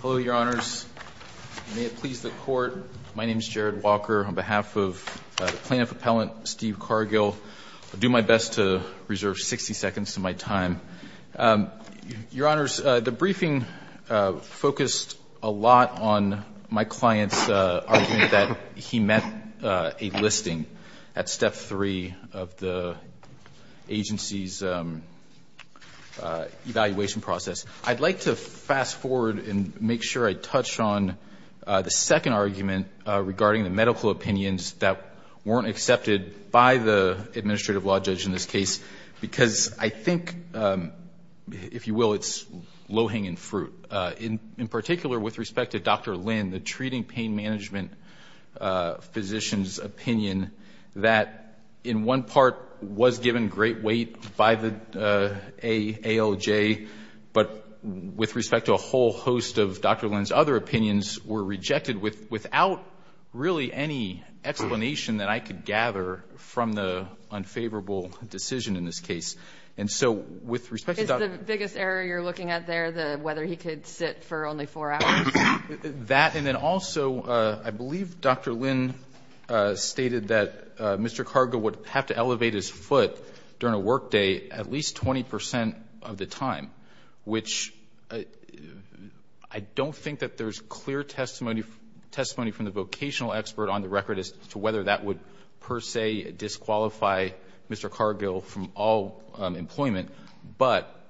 Hello, Your Honors. May it please the Court, my name is Jared Walker. On behalf of the Plaintiff-Appellant Steve Cargill, I'll do my best to reserve 60 seconds to my time. Your Honors, the briefing focused a lot on my client's argument that he met a listing at Step 3 of the agency's evaluation process. I'd like to fast forward and make sure I touch on the second argument regarding the medical opinions that weren't accepted by the administrative law judge in this case, because I think, if you will, it's low-hanging fruit. In particular, with respect to Dr. Lin, the treating pain management physician's opinion that, in one part, was given great weight by the ALJ, but with respect to a whole host of Dr. Lin's other opinions were rejected without really any explanation that I could gather from the unfavorable decision in this case. And so with respect to Dr. Lin's other opinions, I'd like to fast forward and make sure I touch on the second argument regarding the medical opinions that weren't accepted by the administrative law judge in this case, because I think, if you will, it's low-hanging fruit. And so with respect to Dr. Lin's other opinions were rejected without really any explanation that I could gather from the unfavorable decision in this case. And so with respect to Dr. Lin's other opinions were rejected without really any explanation But,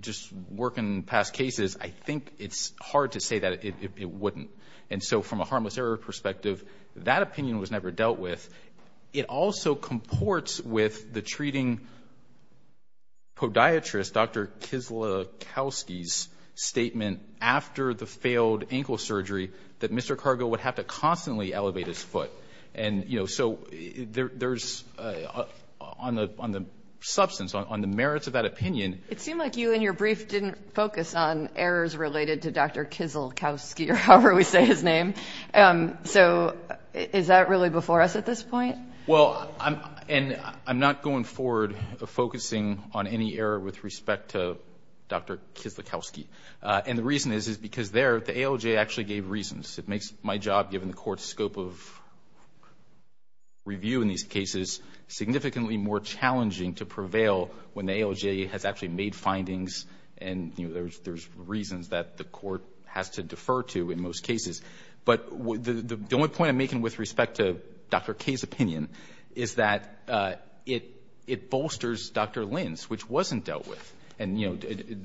just working past cases, I think it's hard to say that it wouldn't. And so from a harmless error perspective, that opinion was never dealt with. It also comports with the treating podiatrist, Dr. Kislyakowski's, statement after the failed ankle surgery that Mr. Cargo would have to constantly elevate his foot. And so there's, on the substance, on the merits of that opinion It seemed like you in your brief didn't focus on errors related to Dr. Kislyakowski, or however we say his name. So is that really before us at this point? Well, and I'm not going forward focusing on any error with respect to Dr. Kislyakowski. And the reason is, is because there, the ALJ actually gave reasons. It makes my job, given the Court's scope of review in these cases, significantly more challenging to prevail when the ALJ has actually made findings and there's reasons that the Court has to defer to in most cases. But the only point I'm making with respect to Dr. K's opinion is that it bolsters Dr. Lin's, which wasn't dealt with. And, you know,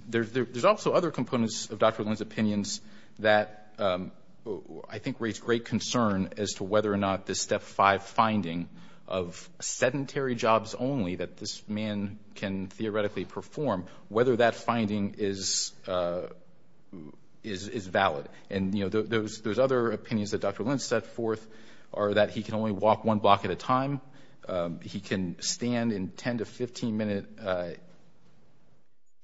there's also other components of Dr. Lin's opinions that I think raise great concern as to whether or not this Step 5 finding of sedentary jobs only that this man can theoretically perform, whether that finding is valid. And, you know, those other opinions that Dr. Lin set forth are that he can only walk one block at a time. He can stand in 10 to 15-minute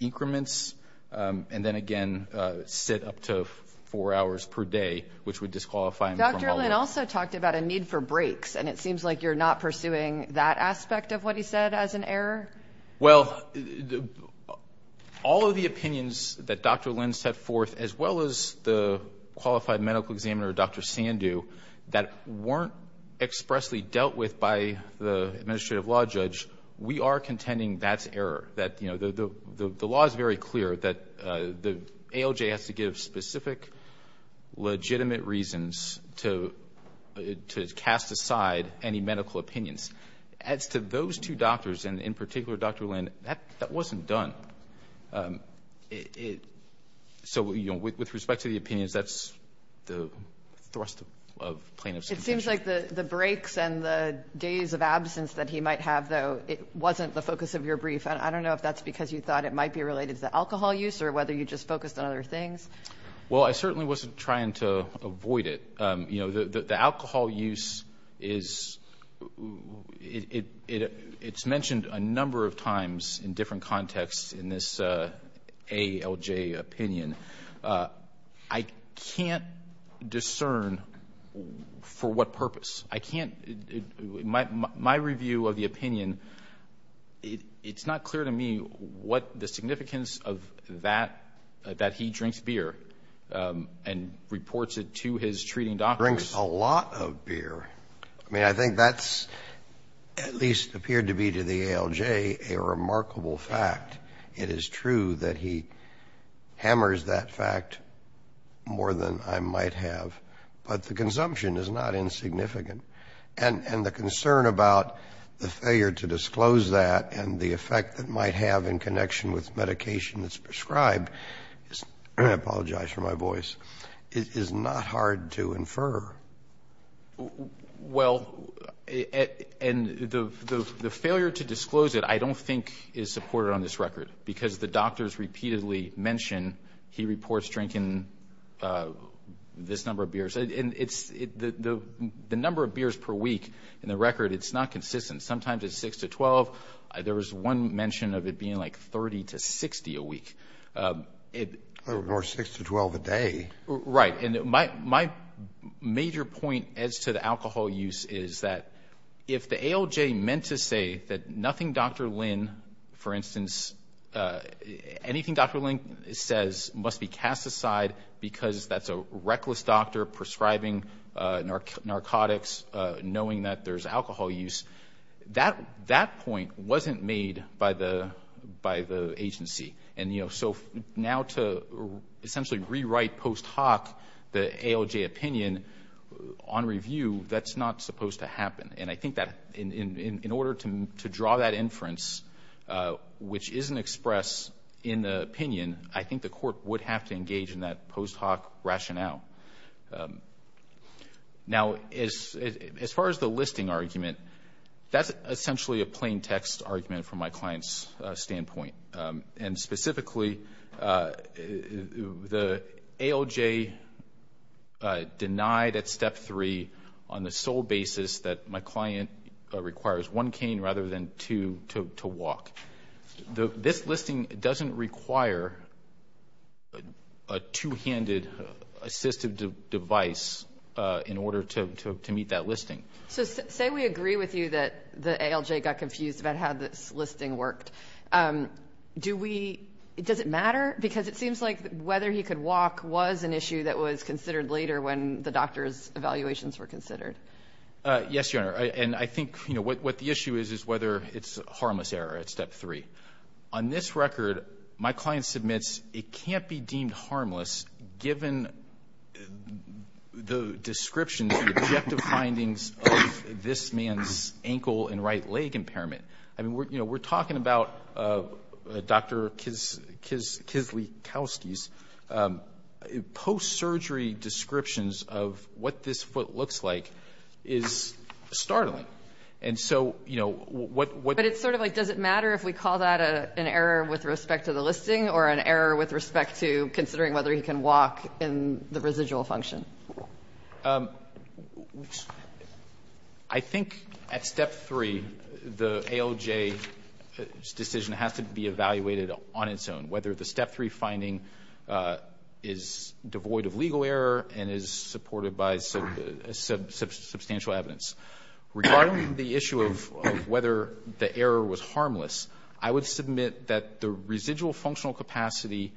increments and then again sit up to four hours per day, which would disqualify him from all work. Dr. Lin also talked about a need for breaks. And it seems like you're not pursuing that aspect of what he said as an error. Well, all of the opinions that Dr. Lin set forth, as well as the qualified medical examiner, Dr. Sandhu, that weren't expressly dealt with by the administrative law judge, we are contending that's error. That, you know, the law is very clear that the ALJ has to give specific legitimate reasons to cast aside any medical opinions. As to those two doctors, and in particular Dr. Lin, that wasn't done. So, you know, with respect to the opinions, that's the thrust of plaintiff's contention. It seems like the breaks and the days of absence that he might have, though, wasn't the focus of your brief. I don't know if that's because you thought it might be related to alcohol use or whether you just focused on other things. Well, I certainly wasn't trying to avoid it. You know, the alcohol use is, it's mentioned a number of times in different contexts in this ALJ opinion. I can't discern for what purpose. I can't. My review of the opinion, it's not clear to me what the significance of that, that he drinks beer and reports it to his treating doctors. Drinks a lot of beer. I mean, I think that's at least appeared to be to the ALJ a remarkable fact. It is true that he hammers that fact more than I might have. But the consumption is not insignificant. And the concern about the failure to disclose that and the effect it might have in connection with medication that's prescribed, I apologize for my voice, is not hard to infer. Well, and the failure to disclose it I don't think is supported on this record because the doctors repeatedly mention he reports drinking this number of beers. And the number of beers per week in the record, it's not consistent. Sometimes it's 6 to 12. There was one mention of it being like 30 to 60 a week. Or 6 to 12 a day. Right. And my major point as to the alcohol use is that if the ALJ meant to say that nothing Dr. Lynn, for instance, anything Dr. Lynn says must be cast aside because that's a reckless doctor prescribing narcotics, knowing that there's alcohol use, that point wasn't made by the agency. And, you know, so now to essentially rewrite post hoc the ALJ opinion on review, that's not supposed to happen. And I think that in order to draw that inference, which isn't expressed in the opinion, I think the court would have to engage in that post hoc rationale. Now, as far as the listing argument, that's essentially a plain text argument from my client's standpoint. And specifically, the ALJ denied at step three on the sole basis that my client requires one cane rather than two to walk. This listing doesn't require a two-handed assistive device in order to meet that listing. So say we agree with you that the ALJ got confused about how this listing worked. Do we ‑‑ does it matter? Because it seems like whether he could walk was an issue that was considered later when the doctor's evaluations were considered. Yes, Your Honor. And I think, you know, what the issue is is whether it's a harmless error at step three. On this record, my client submits it can't be deemed harmless given the description of the objective findings of this man's ankle and right leg impairment. I mean, you know, we're talking about Dr. Kislykowski's post-surgery descriptions of what this foot looks like is startling. And so, you know, what ‑‑ It's sort of like does it matter if we call that an error with respect to the listing or an error with respect to considering whether he can walk in the residual function? I think at step three, the ALJ's decision has to be evaluated on its own, whether the step three finding is devoid of legal error and is supported by substantial evidence. Regarding the issue of whether the error was harmless, I would submit that the residual functional capacity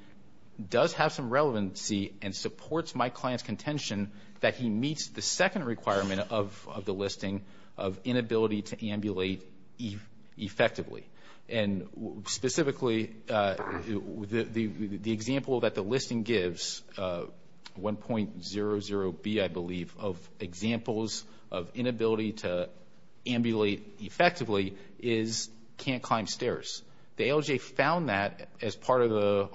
does have some relevancy and supports my client's contention that he meets the second requirement of the listing of inability to ambulate effectively. And specifically, the example that the listing gives, 1.00B, I believe, of examples of inability to ambulate effectively is can't climb stairs. The ALJ found that as part of the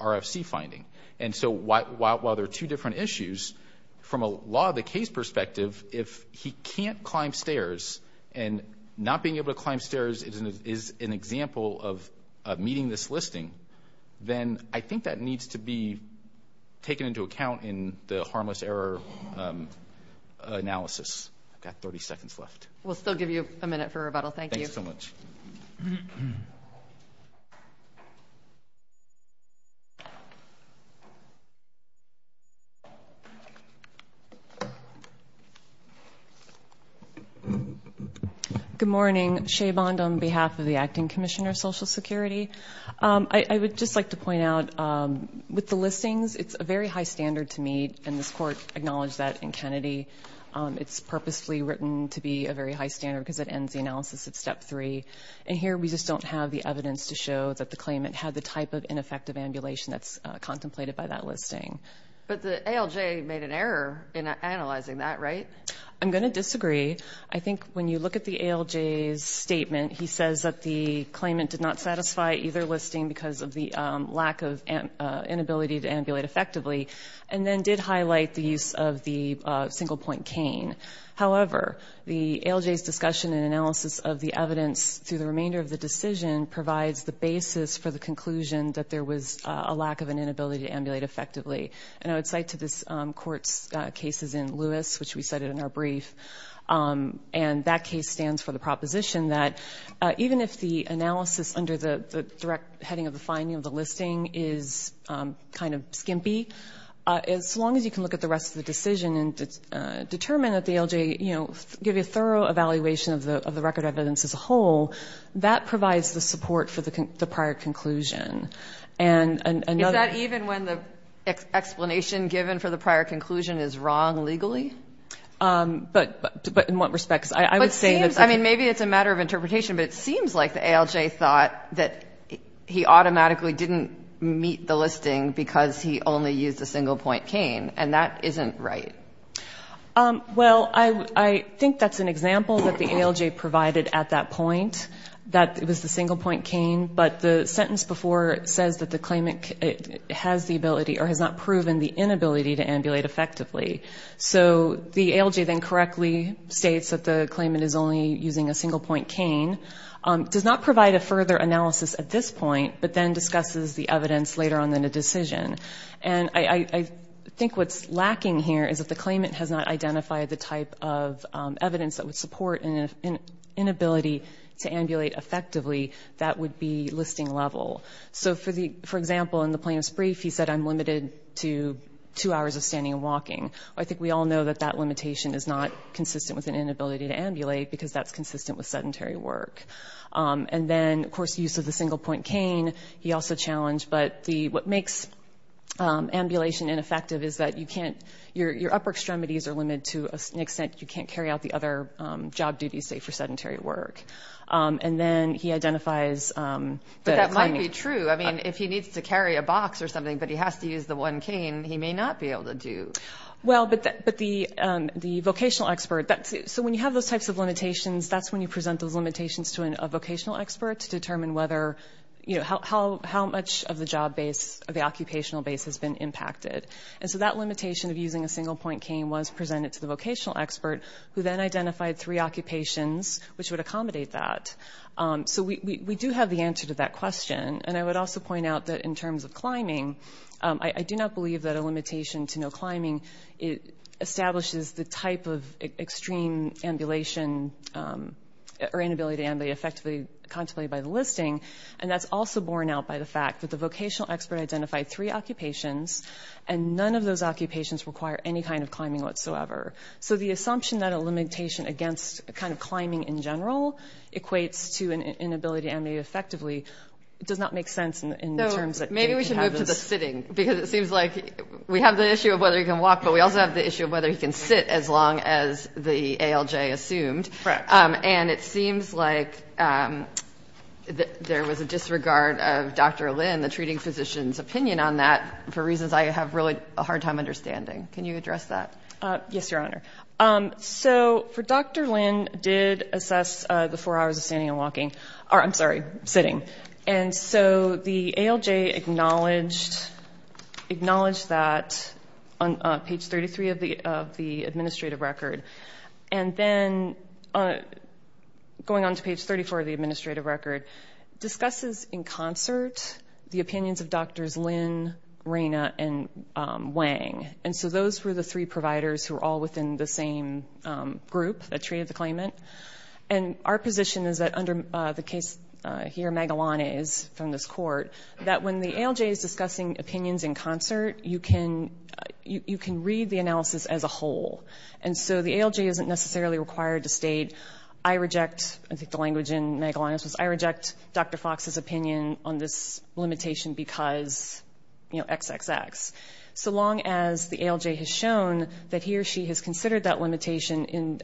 RFC finding. And so while there are two different issues, from a law of the case perspective, if he can't climb stairs and not being able to climb stairs is an example of meeting this listing, then I think that needs to be taken into account in the harmless error analysis. I've got 30 seconds left. We'll still give you a minute for rebuttal. Thank you. Thanks so much. Thank you. Good morning. Shea Bond on behalf of the Acting Commissioner of Social Security. I would just like to point out with the listings, it's a very high standard to meet, and this court acknowledged that in Kennedy. It's purposefully written to be a very high standard because it ends the analysis at step three. And here we just don't have the evidence to show that the claimant had the type of ineffective ambulation that's contemplated by that listing. But the ALJ made an error in analyzing that, right? I'm going to disagree. I think when you look at the ALJ's statement, he says that the claimant did not satisfy either listing because of the lack of inability to ambulate effectively, and then did highlight the use of the single-point cane. However, the ALJ's discussion and analysis of the evidence through the remainder of the decision provides the basis for the conclusion that there was a lack of an inability to ambulate effectively. And I would cite to this court's cases in Lewis, which we cited in our brief, and that case stands for the proposition that even if the analysis under the direct heading of the finding of the listing is kind of skimpy, as long as you can look at the rest of the decision and determine that the ALJ, you know, give you a thorough evaluation of the record evidence as a whole, that provides the support for the prior conclusion. And another one of the... Is that even when the explanation given for the prior conclusion is wrong legally? But in what respects? I would say... But it seems, I mean, maybe it's a matter of interpretation, but it seems like the ALJ thought that he automatically didn't meet the listing because he only used a single-point cane, and that isn't right. Well, I think that's an example that the ALJ provided at that point, that it was the single-point cane, but the sentence before says that the claimant has the ability or has not proven the inability to ambulate effectively. So the ALJ then correctly states that the claimant is only using a single-point cane, does not provide a further analysis at this point, but then discusses the evidence later on in the decision. And I think what's lacking here is that the claimant has not identified the type of evidence that would support an inability to ambulate effectively that would be listing level. So, for example, in the plaintiff's brief, he said, I'm limited to two hours of standing and walking. I think we all know that that limitation is not consistent with an inability to ambulate because that's consistent with sedentary work. And then, of course, use of the single-point cane, he also challenged, but what makes ambulation ineffective is that your upper extremities are limited to an extent you can't carry out the other job duties, say, for sedentary work. And then he identifies that a claimant… But that might be true. I mean, if he needs to carry a box or something, but he has to use the one cane, he may not be able to do. Well, but the vocational expert… So when you have those types of limitations, that's when you present those limitations to a vocational expert to determine whether, you know, how much of the job base or the occupational base has been impacted. And so that limitation of using a single-point cane was presented to the vocational expert who then identified three occupations which would accommodate that. So we do have the answer to that question. And I would also point out that in terms of climbing, I do not believe that a limitation to no climbing establishes the type of extreme ambulation or inability to ambulate effectively contemplated by the listing. And that's also borne out by the fact that the vocational expert identified three occupations, and none of those occupations require any kind of climbing whatsoever. So the assumption that a limitation against kind of climbing in general equates to an inability to ambulate effectively does not make sense in terms of… In terms of sitting, because it seems like we have the issue of whether you can walk, but we also have the issue of whether you can sit as long as the ALJ assumed. Correct. And it seems like there was a disregard of Dr. Lin, the treating physician's opinion on that, for reasons I have really a hard time understanding. Can you address that? Yes, Your Honor. So Dr. Lin did assess the four hours of standing and walking. I'm sorry, sitting. Sitting. And so the ALJ acknowledged that on page 33 of the administrative record. And then going on to page 34 of the administrative record, discusses in concert the opinions of Drs. Lin, Reyna, and Wang. And so those were the three providers who were all within the same group that treated the claimant. And our position is that under the case here, Magalanes from this court, that when the ALJ is discussing opinions in concert, you can read the analysis as a whole. And so the ALJ isn't necessarily required to state, I reject, I think the language in Magalanes was, I reject Dr. Fox's opinion on this limitation because XXX. So long as the ALJ has shown that he or she has considered that limitation in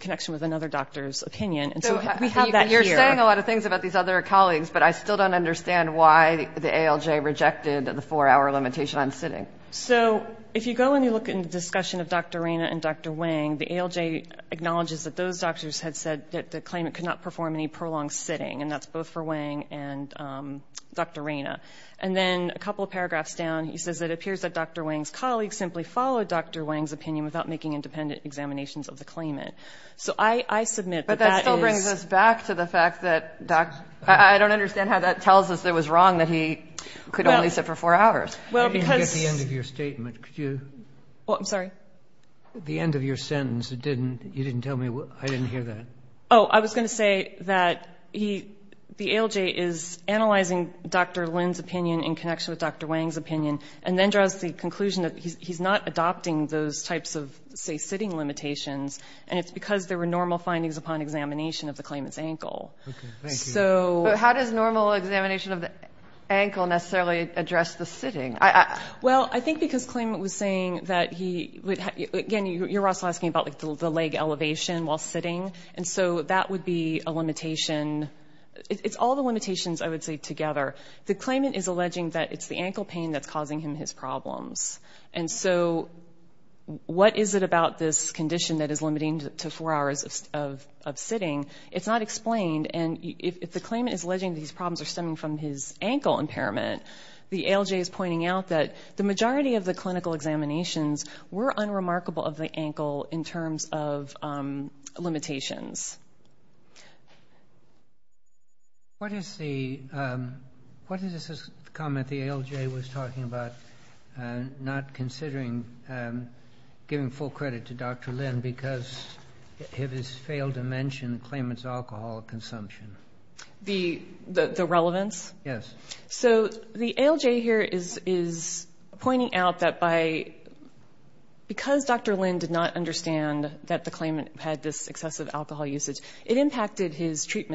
connection with another doctor's opinion. And so we have that here. So you're saying a lot of things about these other colleagues, but I still don't understand why the ALJ rejected the four-hour limitation on sitting. So if you go and you look in the discussion of Dr. Reyna and Dr. Wang, the ALJ acknowledges that those doctors had said that the claimant could not perform any prolonged sitting. And that's both for Wang and Dr. Reyna. And then a couple of paragraphs down, he says it appears that Dr. Wang's colleagues simply followed Dr. Wang's opinion without making independent examinations of the claimant. So I submit that that is. But that still brings us back to the fact that, I don't understand how that tells us it was wrong that he could only sit for four hours. Well, because. You didn't get the end of your statement. Could you? I'm sorry? The end of your sentence, you didn't tell me, I didn't hear that. Oh, I was going to say that he, the ALJ is analyzing Dr. Lin's opinion in connection with Dr. Wang's opinion and then draws the conclusion that he's not adopting those types of, say, sitting limitations. And it's because there were normal findings upon examination of the claimant's ankle. Okay. Thank you. So. But how does normal examination of the ankle necessarily address the sitting? Well, I think because claimant was saying that he, again, you're also asking about the leg elevation while sitting. And so that would be a limitation. It's all the limitations, I would say, together. The claimant is alleging that it's the ankle pain that's causing him his problems. And so what is it about this condition that is limiting to four hours of sitting? It's not explained. And if the claimant is alleging these problems are stemming from his ankle impairment, the ALJ is pointing out that the majority of the clinical examinations were unremarkable of the ankle in terms of limitations. What is the comment the ALJ was talking about not considering giving full credit to Dr. Lynn because it has failed to mention the claimant's alcohol consumption? The relevance? Yes. So the ALJ here is pointing out that because Dr. Lynn did not understand that the treatment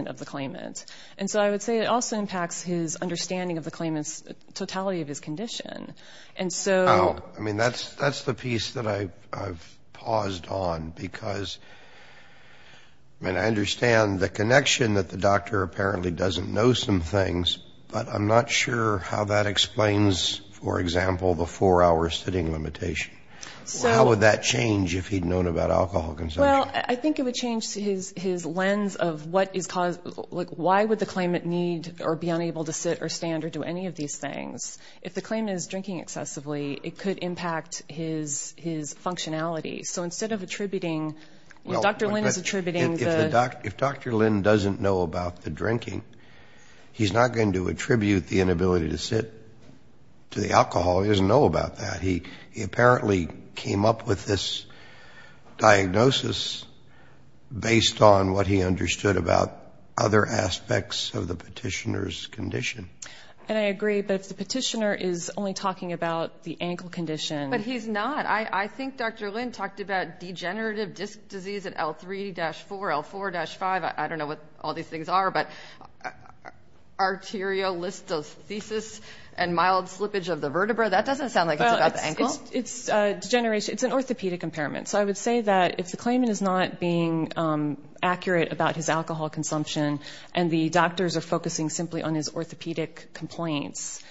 of the claimant. And so I would say it also impacts his understanding of the claimant's totality of his condition. And so that's the piece that I've paused on because, I mean, I understand the connection that the doctor apparently doesn't know some things, but I'm not sure how that explains, for example, the four-hour sitting limitation. How would that change if he'd known about alcohol consumption? Well, I think it would change his lens of what is caused. Why would the claimant need or be unable to sit or stand or do any of these things? If the claimant is drinking excessively, it could impact his functionality. So instead of attributing, Dr. Lynn is attributing the Dr. Lynn doesn't know about the drinking, he's not going to attribute the inability to sit to the alcohol. He doesn't know about that. He apparently came up with this diagnosis based on what he understood about other aspects of the petitioner's condition. And I agree, but if the petitioner is only talking about the ankle condition. But he's not. I think Dr. Lynn talked about degenerative disc disease at L3-4, L4-5. I don't know what all these things are, but arteriolysis and mild slippage of the vertebra. That doesn't sound like it's about the ankle. It's an orthopedic impairment. So I would say that if the claimant is not being accurate about his alcohol consumption and the doctors are focusing simply on his orthopedic complaints,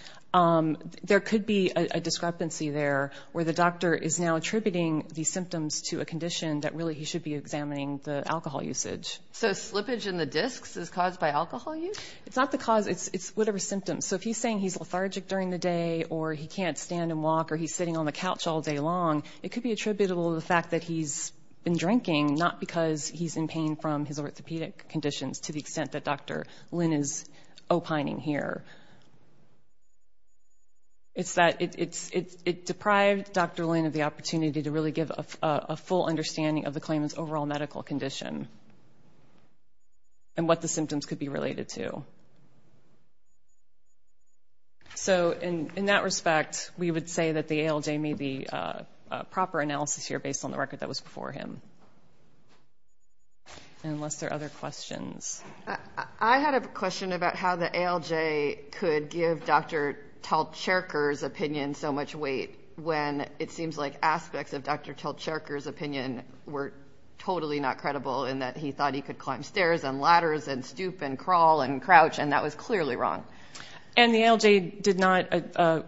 there could be a discrepancy there where the doctor is now attributing the symptoms to a condition that really he should be examining the alcohol usage. So slippage in the discs is caused by alcohol use? It's not the cause. It's whatever symptoms. So if he's saying he's lethargic during the day, or he can't stand and walk, or he's sitting on the couch all day long, it could be attributable to the fact that he's been drinking, not because he's in pain from his orthopedic conditions to the extent that Dr. Lynn is opining here. It's that it deprived Dr. Lynn of the opportunity to really give a full understanding of the claimant's overall medical condition and what the symptoms could be related to. So in that respect, we would say that the ALJ may be a proper analysis here based on the record that was before him. Unless there are other questions. I had a question about how the ALJ could give Dr. Talcherker's opinion so much weight when it seems like aspects of Dr. Talcherker's opinion were totally not credible in that he thought he could climb stairs and ladders and stoop and crawl and crouch, and that was clearly wrong. And the ALJ did not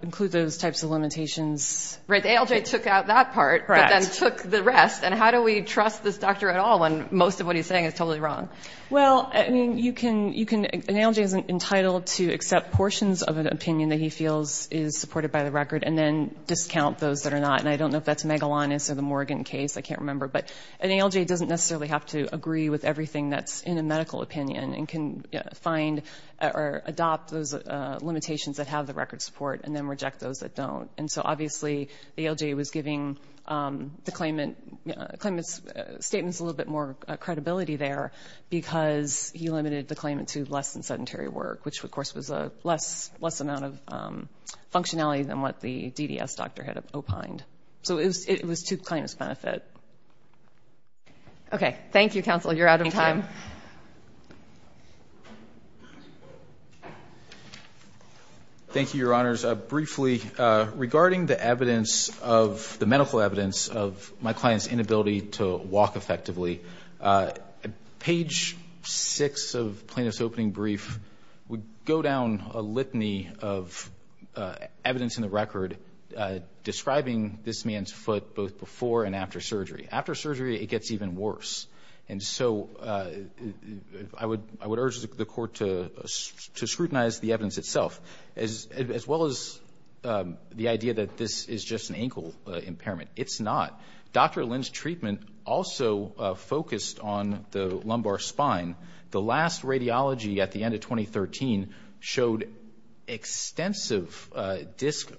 include those types of limitations? Right. The ALJ took out that part but then took the rest. And how do we trust this doctor at all when most of what he's saying is totally wrong? Well, I mean, an ALJ is entitled to accept portions of an opinion that he feels is supported by the record and then discount those that are not. And I don't know if that's Megalanes or the Morgan case. I can't remember. But an ALJ doesn't necessarily have to agree with everything that's in a medical opinion and can find or adopt those limitations that have the record support and then reject those that don't. And so obviously the ALJ was giving the claimant's statements a little bit more credibility there because he limited the claimant to less than sedentary work, which, of course, was a less amount of functionality than what the DDS doctor had opined. So it was to the claimant's benefit. Okay. Thank you, counsel. You're out of time. Thank you, Your Honors. Briefly, regarding the evidence of the medical evidence of my client's inability to walk effectively, page 6 of plaintiff's opening brief would go down a litany of evidence in the record describing this man's foot both before and after surgery. After surgery, it gets even worse. And so I would urge the Court to scrutinize the evidence itself, as well as the idea that this is just an ankle impairment. It's not. Dr. Lin's treatment also focused on the lumbar spine. The last radiology at the end of 2013 showed extensive disc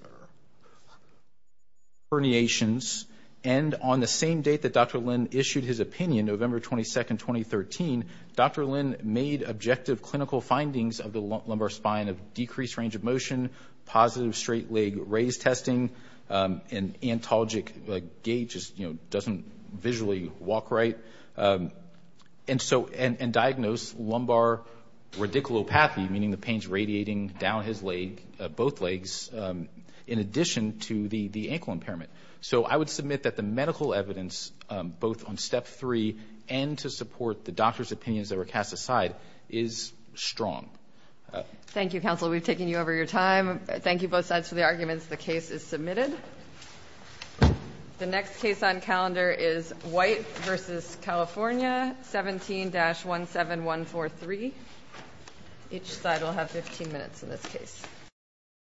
herniations. And on the same date that Dr. Lin issued his opinion, November 22, 2013, Dr. Lin made objective clinical findings of the lumbar spine of decreased range of motion, positive straight leg raise testing, and antalgic gait just doesn't visually walk right, and diagnosed lumbar radiculopathy, meaning the pain's radiating down his leg, both legs, in addition to the ankle impairment. So I would submit that the medical evidence, both on Step 3 and to support the doctor's opinions that were cast aside, is strong. Thank you, counsel. We've taken you over your time. Thank you, both sides, for the arguments. The case is submitted. The next case on calendar is White v. California, 17-17143. Each side will have 15 minutes in this case.